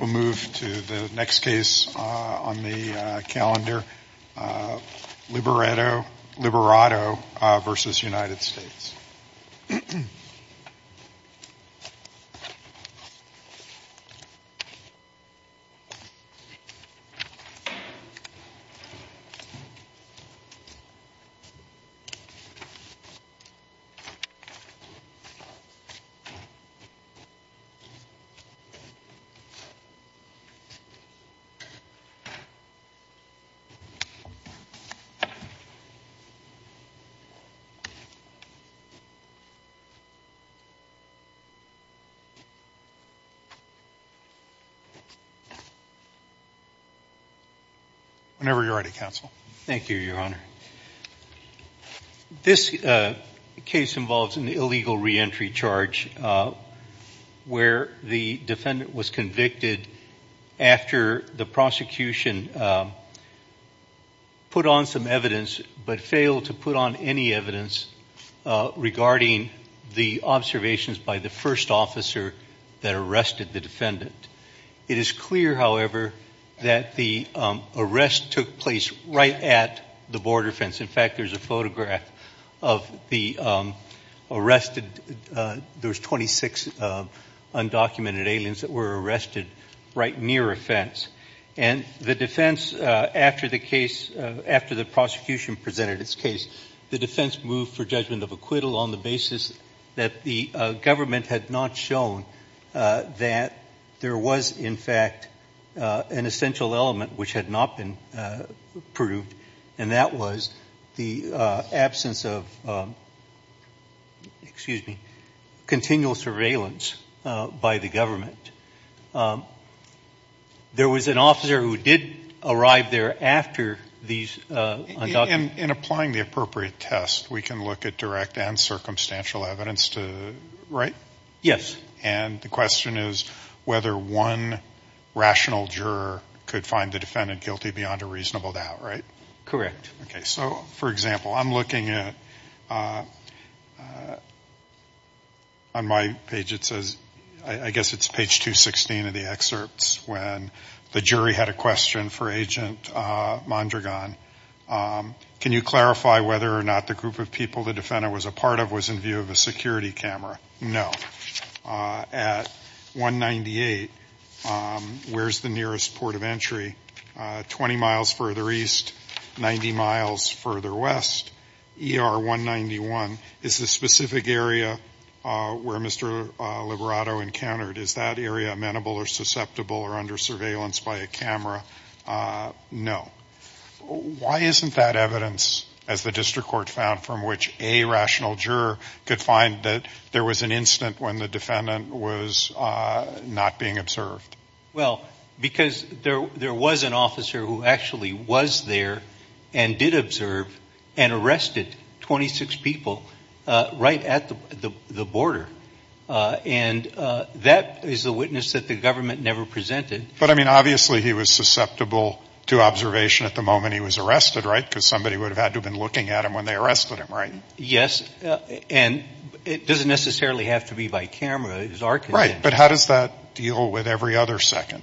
We'll move to the next case on the calendar, Liberato v. United States. Whenever you're ready, Counsel. Thank you, Your Honor. This case involves an illegal reentry charge where the defendant was convicted after the prosecution put on some evidence but failed to put on any evidence regarding the observations by the first officer that arrested the defendant. It is clear, however, that the arrest took place right at the border fence. In fact, there's a photograph of the arrested – there was 26 undocumented aliens that were arrested right near a fence. And the defense, after the case – after the prosecution presented its case, the defense moved for judgment of acquittal on the basis that the government had not shown that there was, in fact, an essential element which had not been proved, and that was the absence of – excuse me – continual surveillance by the government. There was an officer who did arrive there after these – In applying the appropriate test, we can look at direct and circumstantial evidence, right? Yes. And the question is whether one rational juror could find the defendant guilty beyond a reasonable doubt, right? Correct. Okay, so for example, I'm looking at – on my page it says – I guess it's page 216 of the excerpts when the jury had a question for Agent Mondragon. Can you clarify whether or not the group of people the defendant was a part of was in view of a security camera? No. At 198, where's the nearest port of entry? 20 miles further east, 90 miles further west, ER 191. Is the specific area where Mr. Liberato encountered – is that area amenable or susceptible or under surveillance by a camera? No. Why isn't that evidence, as the district court found, from which a rational juror could find that there was an incident when the defendant was not being observed? Well, because there was an officer who actually was there and did observe and arrested 26 people right at the border. And that is a witness that the government never presented. But, I mean, obviously he was susceptible to observation at the moment he was arrested, right? Because somebody would have had to have been looking at him when they arrested him, right? Yes. And it doesn't necessarily have to be by camera. Right. But how does that deal with every other second?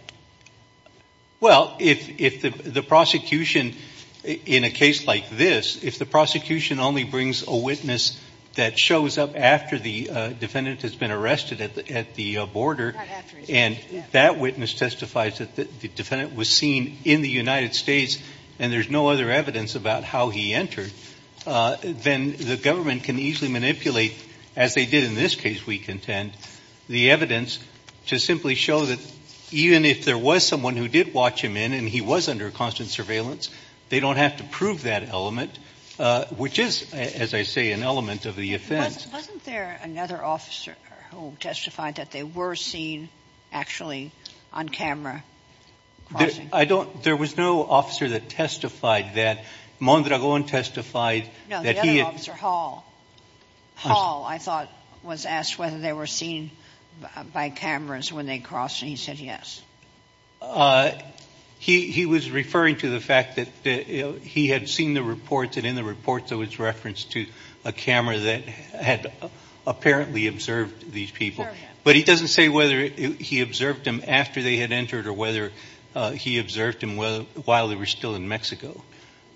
Well, if the prosecution in a case like this, if the prosecution only brings a witness that shows up after the defendant has been arrested at the border, and that witness testifies that the defendant was seen in the United States and there's no other evidence about how he entered, then the government can easily manipulate, as they did in this case, we contend, the evidence to simply show that even if there was someone who did watch him in and he was under constant surveillance, they don't have to prove that element, which is, as I say, an element of the offense. Wasn't there another officer who testified that they were seen actually on camera crossing? I don't – there was no officer that testified that. Mondragon testified that he had – that they were seen by cameras when they crossed, and he said yes. He was referring to the fact that he had seen the reports, and in the reports it was referenced to a camera that had apparently observed these people. But he doesn't say whether he observed them after they had entered or whether he observed them while they were still in Mexico.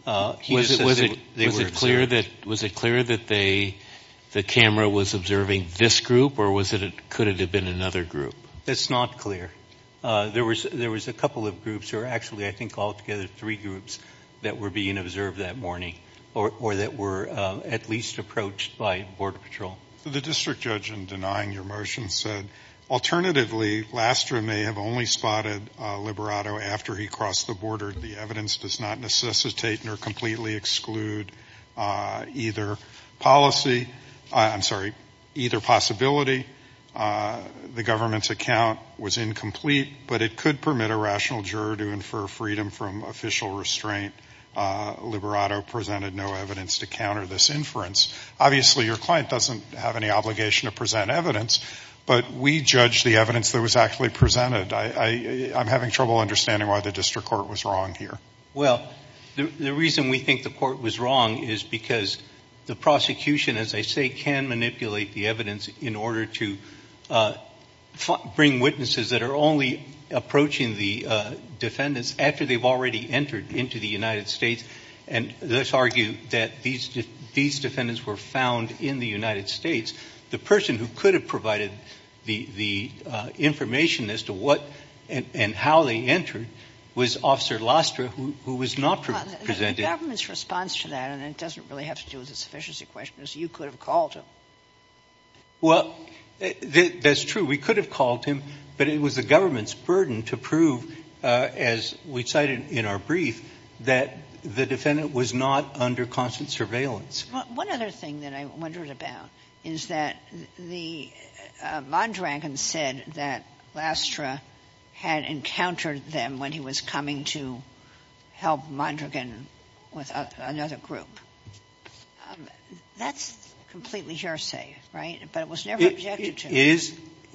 Was it clear that they – the camera was observing this group, or was it – could it have been another group? It's not clear. There was a couple of groups, or actually I think altogether three groups, that were being observed that morning or that were at least approached by Border Patrol. The district judge, in denying your motion, said, Liberato, after he crossed the border, the evidence does not necessitate nor completely exclude either policy – I'm sorry, either possibility. The government's account was incomplete, but it could permit a rational juror to infer freedom from official restraint. Liberato presented no evidence to counter this inference. Obviously, your client doesn't have any obligation to present evidence, but we judged the evidence that was actually presented. I'm having trouble understanding why the district court was wrong here. Well, the reason we think the court was wrong is because the prosecution, as I say, can manipulate the evidence in order to bring witnesses that are only approaching the defendants after they've already entered into the United States. And let's argue that these defendants were found in the United States. The person who could have provided the information as to what and how they entered was Officer Lostra, who was not presented. The government's response to that, and it doesn't really have to do with the sufficiency question, is you could have called him. Well, that's true. We could have called him, but it was the government's burden to prove, as we cited in our brief, that the defendant was not under constant surveillance. One other thing that I wondered about is that Mondragon said that Lostra had encountered them when he was coming to help Mondragon with another group. That's completely hearsay, right? But it was never objected to.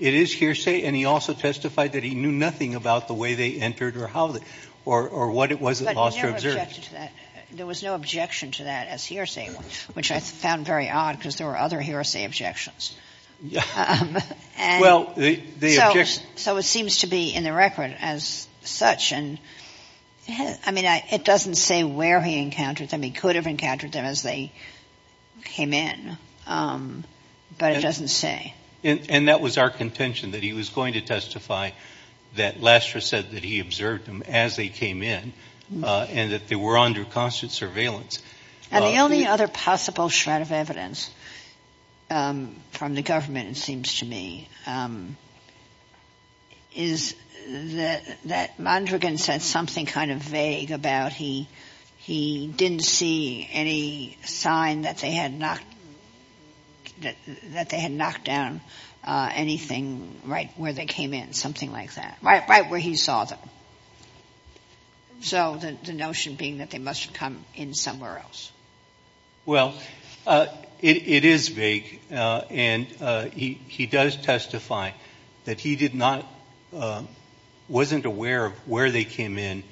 It is hearsay, and he also testified that he knew nothing about the way they entered or how they or what it was that Lostra observed. But he never objected to that. There was no objection to that as hearsay, which I found very odd because there were other hearsay objections. So it seems to be in the record as such. I mean, it doesn't say where he encountered them. He could have encountered them as they came in, but it doesn't say. And that was our contention, that he was going to testify that Lostra said that he observed them as they came in and that they were under constant surveillance. And the only other possible shred of evidence from the government, it seems to me, is that Mondragon said something kind of vague about he didn't see any sign that they had knocked down anything right where they came in, something like that, right where he saw them. So the notion being that they must have come in somewhere else. Well, it is vague, and he does testify that he did not, wasn't aware of where they came in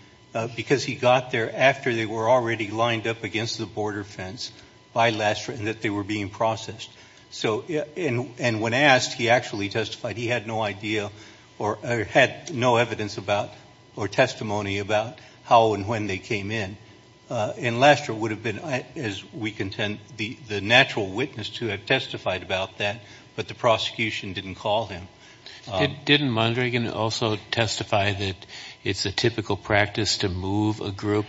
because he got there after they were already lined up against the border fence by Lostra and that they were being processed. And when asked, he actually testified he had no idea or had no evidence about or testimony about how and when they came in. And Lostra would have been, as we contend, the natural witness to have testified about that, but the prosecution didn't call him. Didn't Mondragon also testify that it's a typical practice to move a group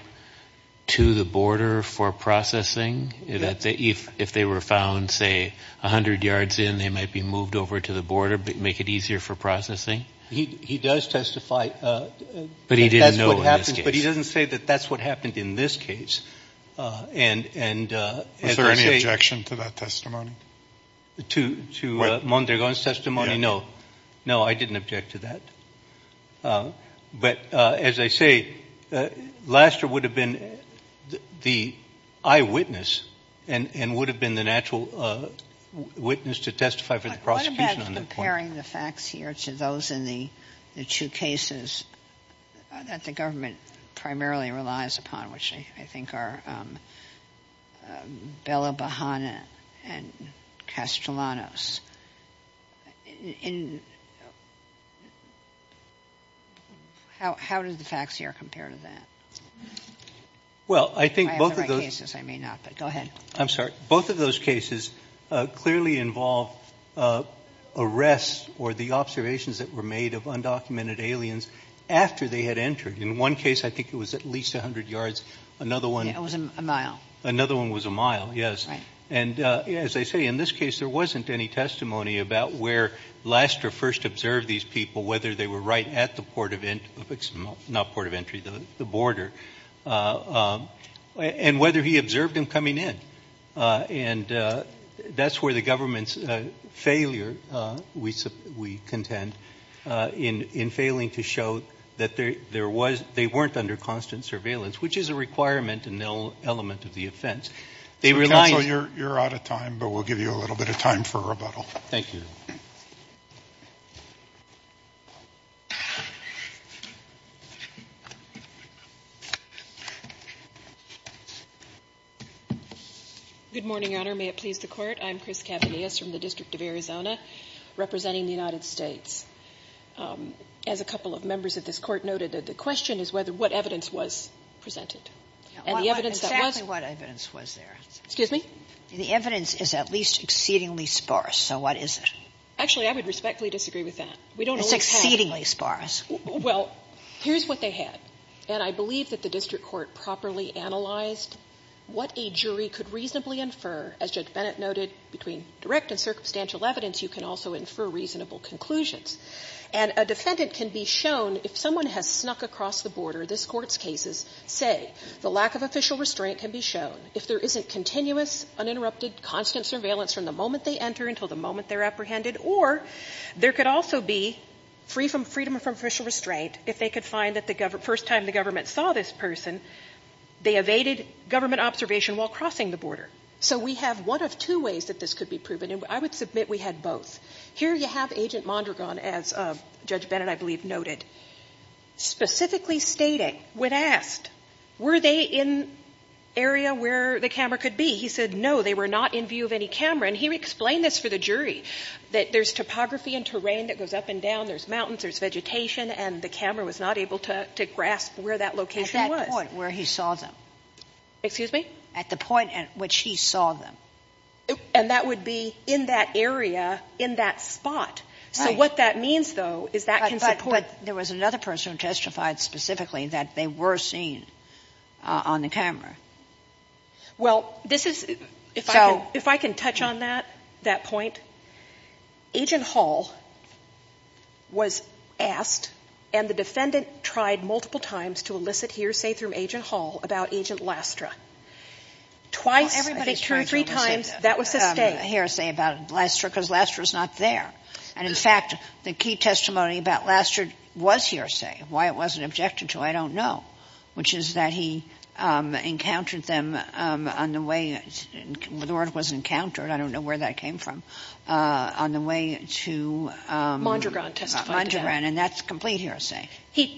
to the border for processing? That if they were found, say, 100 yards in, they might be moved over to the border to make it easier for processing? He does testify. But he didn't know in this case. But he doesn't say that that's what happened in this case. Was there any objection to that testimony? To Mondragon's testimony? No. No, I didn't object to that. But as I say, Lostra would have been the eyewitness and would have been the natural witness to testify for the prosecution on that point. What about comparing the facts here to those in the two cases that the government primarily relies upon, which I think are Bella Bahana and Castellanos? How do the facts here compare to that? Well, I think both of those cases clearly involve arrests or the observations that were made of undocumented aliens after they had entered. In one case, I think it was at least 100 yards. Yeah, it was a mile. Another one was a mile, yes. And as I say, in this case there wasn't any testimony about where Lostra first observed these people, whether they were right at the border, and whether he observed them coming in. And that's where the government's failure, we contend, in failing to show that they weren't under constant surveillance, which is a requirement and an element of the offense. Counsel, you're out of time, but we'll give you a little bit of time for rebuttal. Thank you. Good morning, Your Honor. May it please the Court. I'm Chris Cavanias from the District of Arizona representing the United States. As a couple of members of this Court noted, the question is what evidence was presented. And the evidence that was ---- Exactly what evidence was there. Excuse me? The evidence is at least exceedingly sparse. So what is it? Actually, I would respectfully disagree with that. We don't always have ---- It's exceedingly sparse. Well, here's what they had. And I believe that the district court properly analyzed what a jury could reasonably infer. As Judge Bennett noted, between direct and circumstantial evidence, you can also infer reasonable conclusions. And a defendant can be shown, if someone has snuck across the border, this Court's cases, say the lack of official restraint can be shown. If there isn't continuous, uninterrupted, constant surveillance from the moment they enter until the moment they're apprehended. Or there could also be freedom from official restraint if they could find that the first time the government saw this person, they evaded government observation while crossing the border. So we have one of two ways that this could be proven. And I would submit we had both. Here you have Agent Mondragon, as Judge Bennett, I believe, noted, specifically stating, when asked, were they in area where the camera could be? He said no, they were not in view of any camera. And he explained this for the jury, that there's topography and terrain that goes up and down, there's mountains, there's vegetation, and the camera was not able to grasp where that location was. At that point where he saw them. Excuse me? At the point at which he saw them. And that would be in that area, in that spot. Right. So what that means, though, is that can support ---- There was another person who testified specifically that they were seen on the camera. Well, this is ---- If I can touch on that, that point, Agent Hall was asked, and the defendant tried multiple times to elicit hearsay from Agent Hall about Agent Lastra. Twice, I think two or three times, that was sustained. Well, everybody's trying to elicit hearsay about Lastra because Lastra's not there. And, in fact, the key testimony about Lastra was hearsay. Why it wasn't objected to, I don't know. Which is that he encountered them on the way ---- The word was encountered. I don't know where that came from. On the way to ---- Mondragon testified to that. Mondragon. And that's complete hearsay.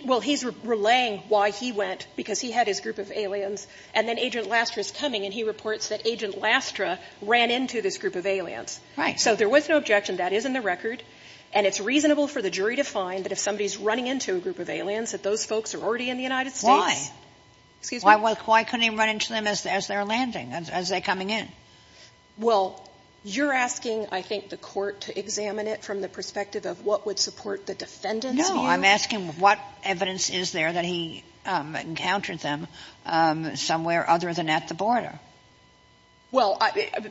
Well, he's relaying why he went, because he had his group of aliens, and then Agent Lastra's coming, and he reports that Agent Lastra ran into this group of aliens. Right. So there was no objection. That is in the record. And it's reasonable for the jury to find that if somebody's running into a group of aliens, that those folks are already in the United States. Why? Excuse me? Why couldn't he run into them as they're landing, as they're coming in? Well, you're asking, I think, the Court to examine it from the perspective of what would support the defendant's view. No. I'm asking what evidence is there that he encountered them somewhere other than at the border. Well,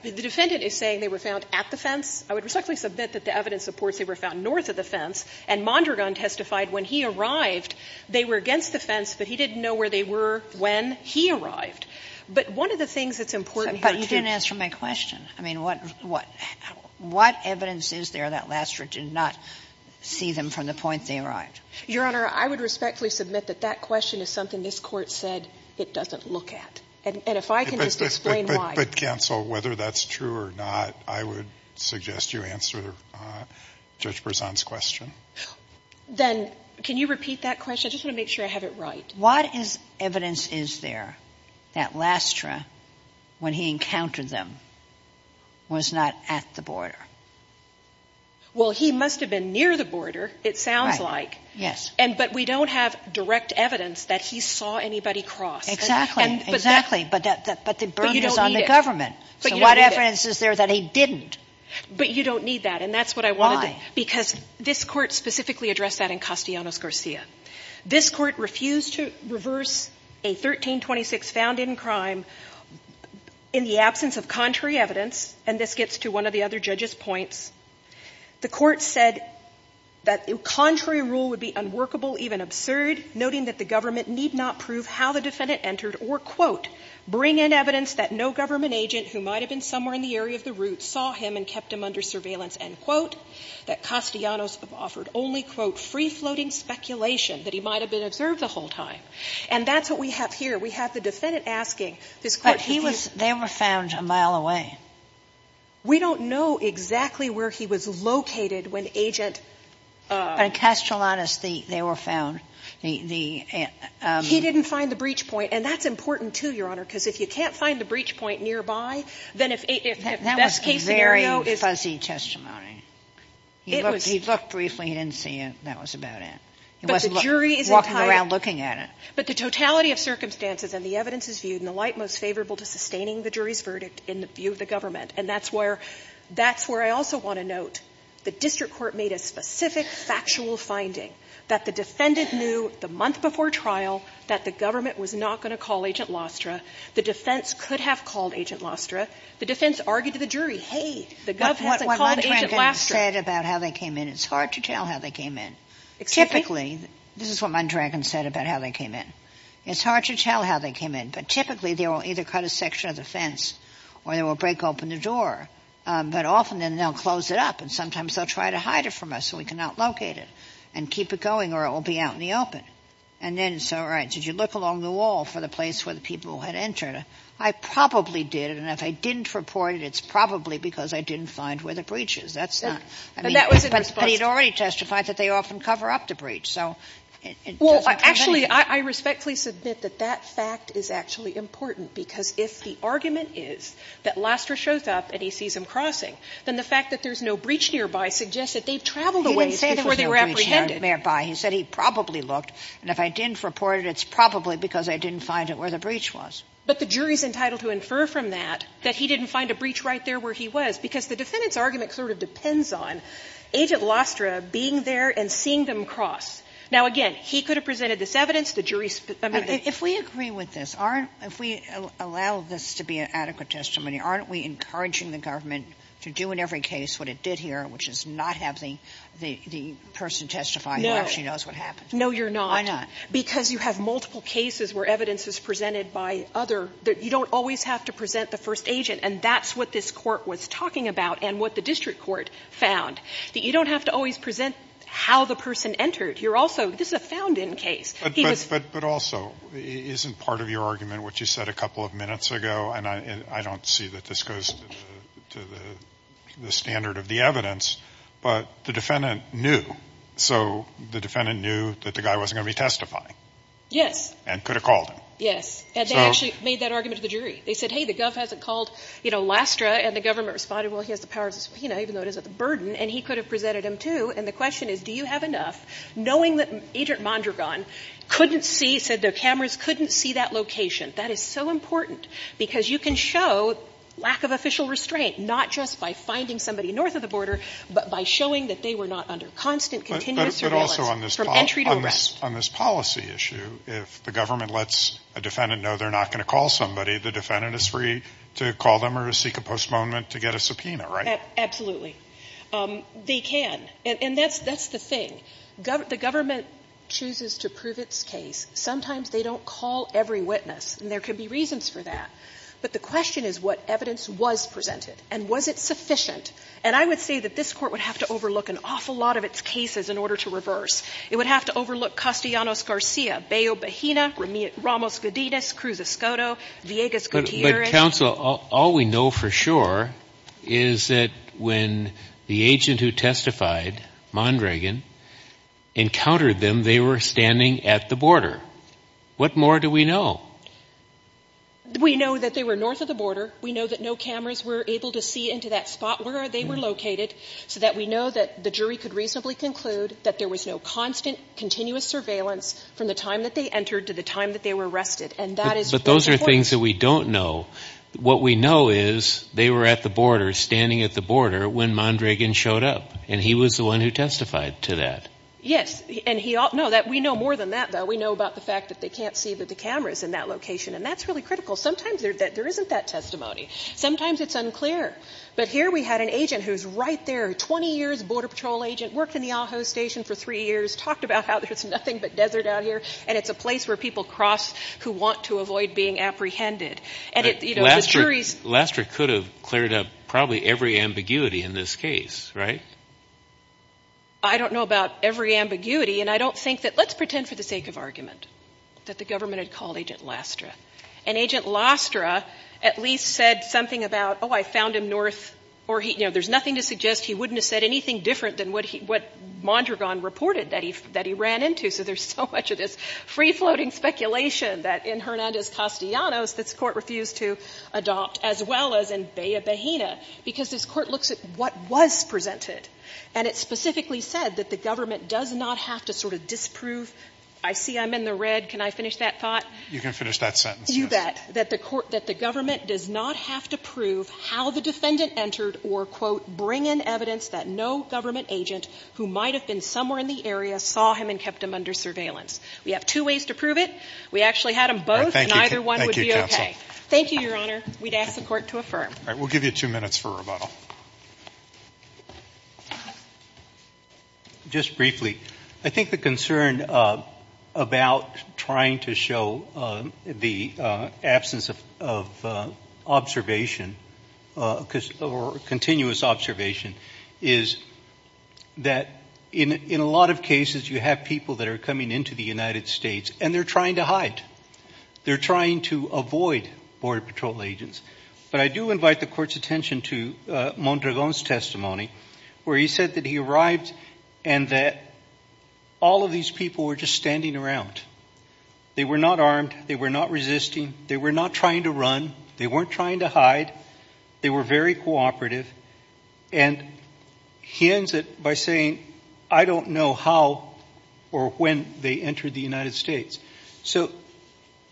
the defendant is saying they were found at the fence. I would respectfully submit that the evidence supports they were found north of the And Mondragon testified when he arrived they were against the fence, but he didn't know where they were when he arrived. But one of the things that's important here, too ---- But you didn't answer my question. I mean, what evidence is there that Lastra did not see them from the point they arrived? Your Honor, I would respectfully submit that that question is something this Court said it doesn't look at. And if I can just explain why. But, counsel, whether that's true or not, I would suggest you answer Judge Berzon's Then can you repeat that question? I just want to make sure I have it right. What evidence is there that Lastra, when he encountered them, was not at the border? Well, he must have been near the border, it sounds like. Right. Yes. But we don't have direct evidence that he saw anybody cross. Exactly. Exactly. But the burden is on the government. So what evidence is there that he didn't? But you don't need that. And that's what I wanted to say. Because this Court specifically addressed that in Castellanos-Garcia. This Court refused to reverse a 1326 found in crime in the absence of contrary evidence, and this gets to one of the other judges' points. The Court said that the contrary rule would be unworkable, even absurd, noting that the government need not prove how the defendant entered or, quote, bring in evidence that no government agent who might have been somewhere in the area of the route saw him and kept him under surveillance, end quote, that Castellanos offered only, quote, free-floating speculation that he might have been observed the whole time. And that's what we have here. We have the defendant asking. This Court refused. But he was they were found a mile away. We don't know exactly where he was located when Agent- But in Castellanos, they were found. He didn't find the breach point. And that's important, too, Your Honor, because if you can't find the breach point nearby, then if a best-case scenario is- That was a very fuzzy testimony. It was- He looked briefly. He didn't see it. That was about it. But the jury is- He wasn't walking around looking at it. But the totality of circumstances and the evidence is viewed in the light most favorable to sustaining the jury's verdict in the view of the government. And that's where I also want to note the district court made a specific factual finding that the defendant knew the month before trial that the government was not going to call Agent Lostra. The defense could have called Agent Lostra. The defense argued to the jury, hey, the government hasn't called Agent Lostra. What Mondragon said about how they came in, it's hard to tell how they came in. Typically- This is what Mondragon said about how they came in. It's hard to tell how they came in. But typically they will either cut a section of the fence or they will break open the door. But often then they'll close it up and sometimes they'll try to hide it from us so we can outlocate it and keep it going or it will be out in the open. And then so, all right, did you look along the wall for the place where the people had entered? I probably did, and if I didn't report it, it's probably because I didn't find where the breach is. That's not- And that was in response to- But he had already testified that they often cover up the breach. So it doesn't prevent- Actually, I respectfully submit that that fact is actually important, because if the argument is that Lostra shows up and he sees them crossing, then the fact that there's no breach nearby suggests that they've traveled a ways before they were apprehended. He said he probably looked, and if I didn't report it, it's probably because I didn't find it where the breach was. But the jury's entitled to infer from that that he didn't find a breach right there where he was, because the defendant's argument sort of depends on Agent Lostra being there and seeing them cross. Now, again, he could have presented this evidence. The jury's- If we agree with this, aren't we, if we allow this to be an adequate testimony, aren't we encouraging the government to do in every case what it did here, which is not have the person testify who actually knows what happened? No. No, you're not. Why not? Because you have multiple cases where evidence is presented by other. You don't always have to present the first agent, and that's what this Court was talking about and what the district court found, that you don't have to always present how the person entered. You're also, this is a found-in case. He was- But also, isn't part of your argument what you said a couple of minutes ago, and I don't see that this goes to the standard of the evidence, but the defendant knew. So the defendant knew that the guy wasn't going to be testifying. Yes. And could have called him. Yes. And they actually made that argument to the jury. They said, hey, the gov hasn't called, you know, Lostra, and the government responded, well, he has the power, you know, even though it isn't the burden, and he could have presented him, too. And the question is, do you have enough, knowing that Agent Mondragon couldn't see, said the cameras couldn't see that location. That is so important, because you can show lack of official restraint, not just by finding somebody north of the border, but by showing that they were not under constant, continuous surveillance from entry to arrest. But also on this policy issue, if the government lets a defendant know they're not going to call somebody, the defendant is free to call them or to seek a postponement to get a subpoena, right? Absolutely. They can. And that's the thing. The government chooses to prove its case. Sometimes they don't call every witness, and there could be reasons for that. But the question is what evidence was presented, and was it sufficient. And I would say that this Court would have to overlook an awful lot of its cases in order to reverse. It would have to overlook Castellanos Garcia, Bayo Bejina, Ramos Godinez, Cruz Escoto, Villegas Gutierrez. But, Counsel, all we know for sure is that when the agent who testified, Mondragon, encountered them, they were standing at the border. What more do we know? We know that they were north of the border. We know that no cameras were able to see into that spot where they were located so that we know that the jury could reasonably conclude that there was no constant, continuous surveillance from the time that they entered to the time that they were arrested. But those are things that we don't know. What we know is they were at the border, standing at the border, when Mondragon showed up. And he was the one who testified to that. Yes. And we know more than that, though. We know about the fact that they can't see with the cameras in that location. And that's really critical. Sometimes there isn't that testimony. Sometimes it's unclear. But here we had an agent who's right there, 20 years, border patrol agent, worked in the Ajo Station for three years, talked about how there's nothing but desert out here. And it's a place where people cross who want to avoid being apprehended. And, you know, the jury's – Lastre could have cleared up probably every ambiguity in this case, right? I don't know about every ambiguity. And I don't think that – let's pretend for the sake of argument that the government had called Agent Lastre. And Agent Lastre at least said something about, oh, I found him north – or, you know, there's nothing to suggest he wouldn't have said anything different than what Mondragon reported that he ran into. So there's so much of this free-floating speculation that in Hernandez-Castellanos this Court refused to adopt, as well as in Bella-Bahena, because this Court looks at what was presented. And it specifically said that the government does not have to sort of disprove – I see I'm in the red. Can I finish that thought? You can finish that sentence. You bet. That the government does not have to prove how the defendant entered or, quote, bring in evidence that no government agent who might have been somewhere in the We have two ways to prove it. We actually had them both, and either one would be okay. Thank you, Your Honor. We'd ask the Court to affirm. All right. We'll give you two minutes for rebuttal. Just briefly, I think the concern about trying to show the absence of observation or continuous observation is that in a lot of cases you have people that are coming into the United States, and they're trying to hide. They're trying to avoid Border Patrol agents. But I do invite the Court's attention to Mondragon's testimony, where he said that he arrived and that all of these people were just standing around. They were not armed. They were not resisting. They were not trying to run. They weren't trying to hide. They were very cooperative. And he ends it by saying, I don't know how or when they entered the United States. So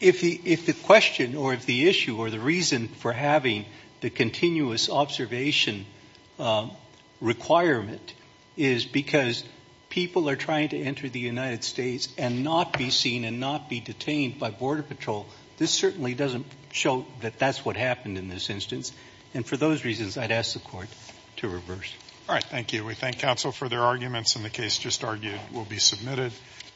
if the question or if the issue or the reason for having the continuous observation requirement is because people are trying to enter the United States and not be seen and not be detained by Border Patrol, this certainly doesn't show that that's what happened in this instance. And for those reasons, I'd ask the Court to reverse. All right. Thank you. We thank counsel for their arguments, and the case just argued will be submitted.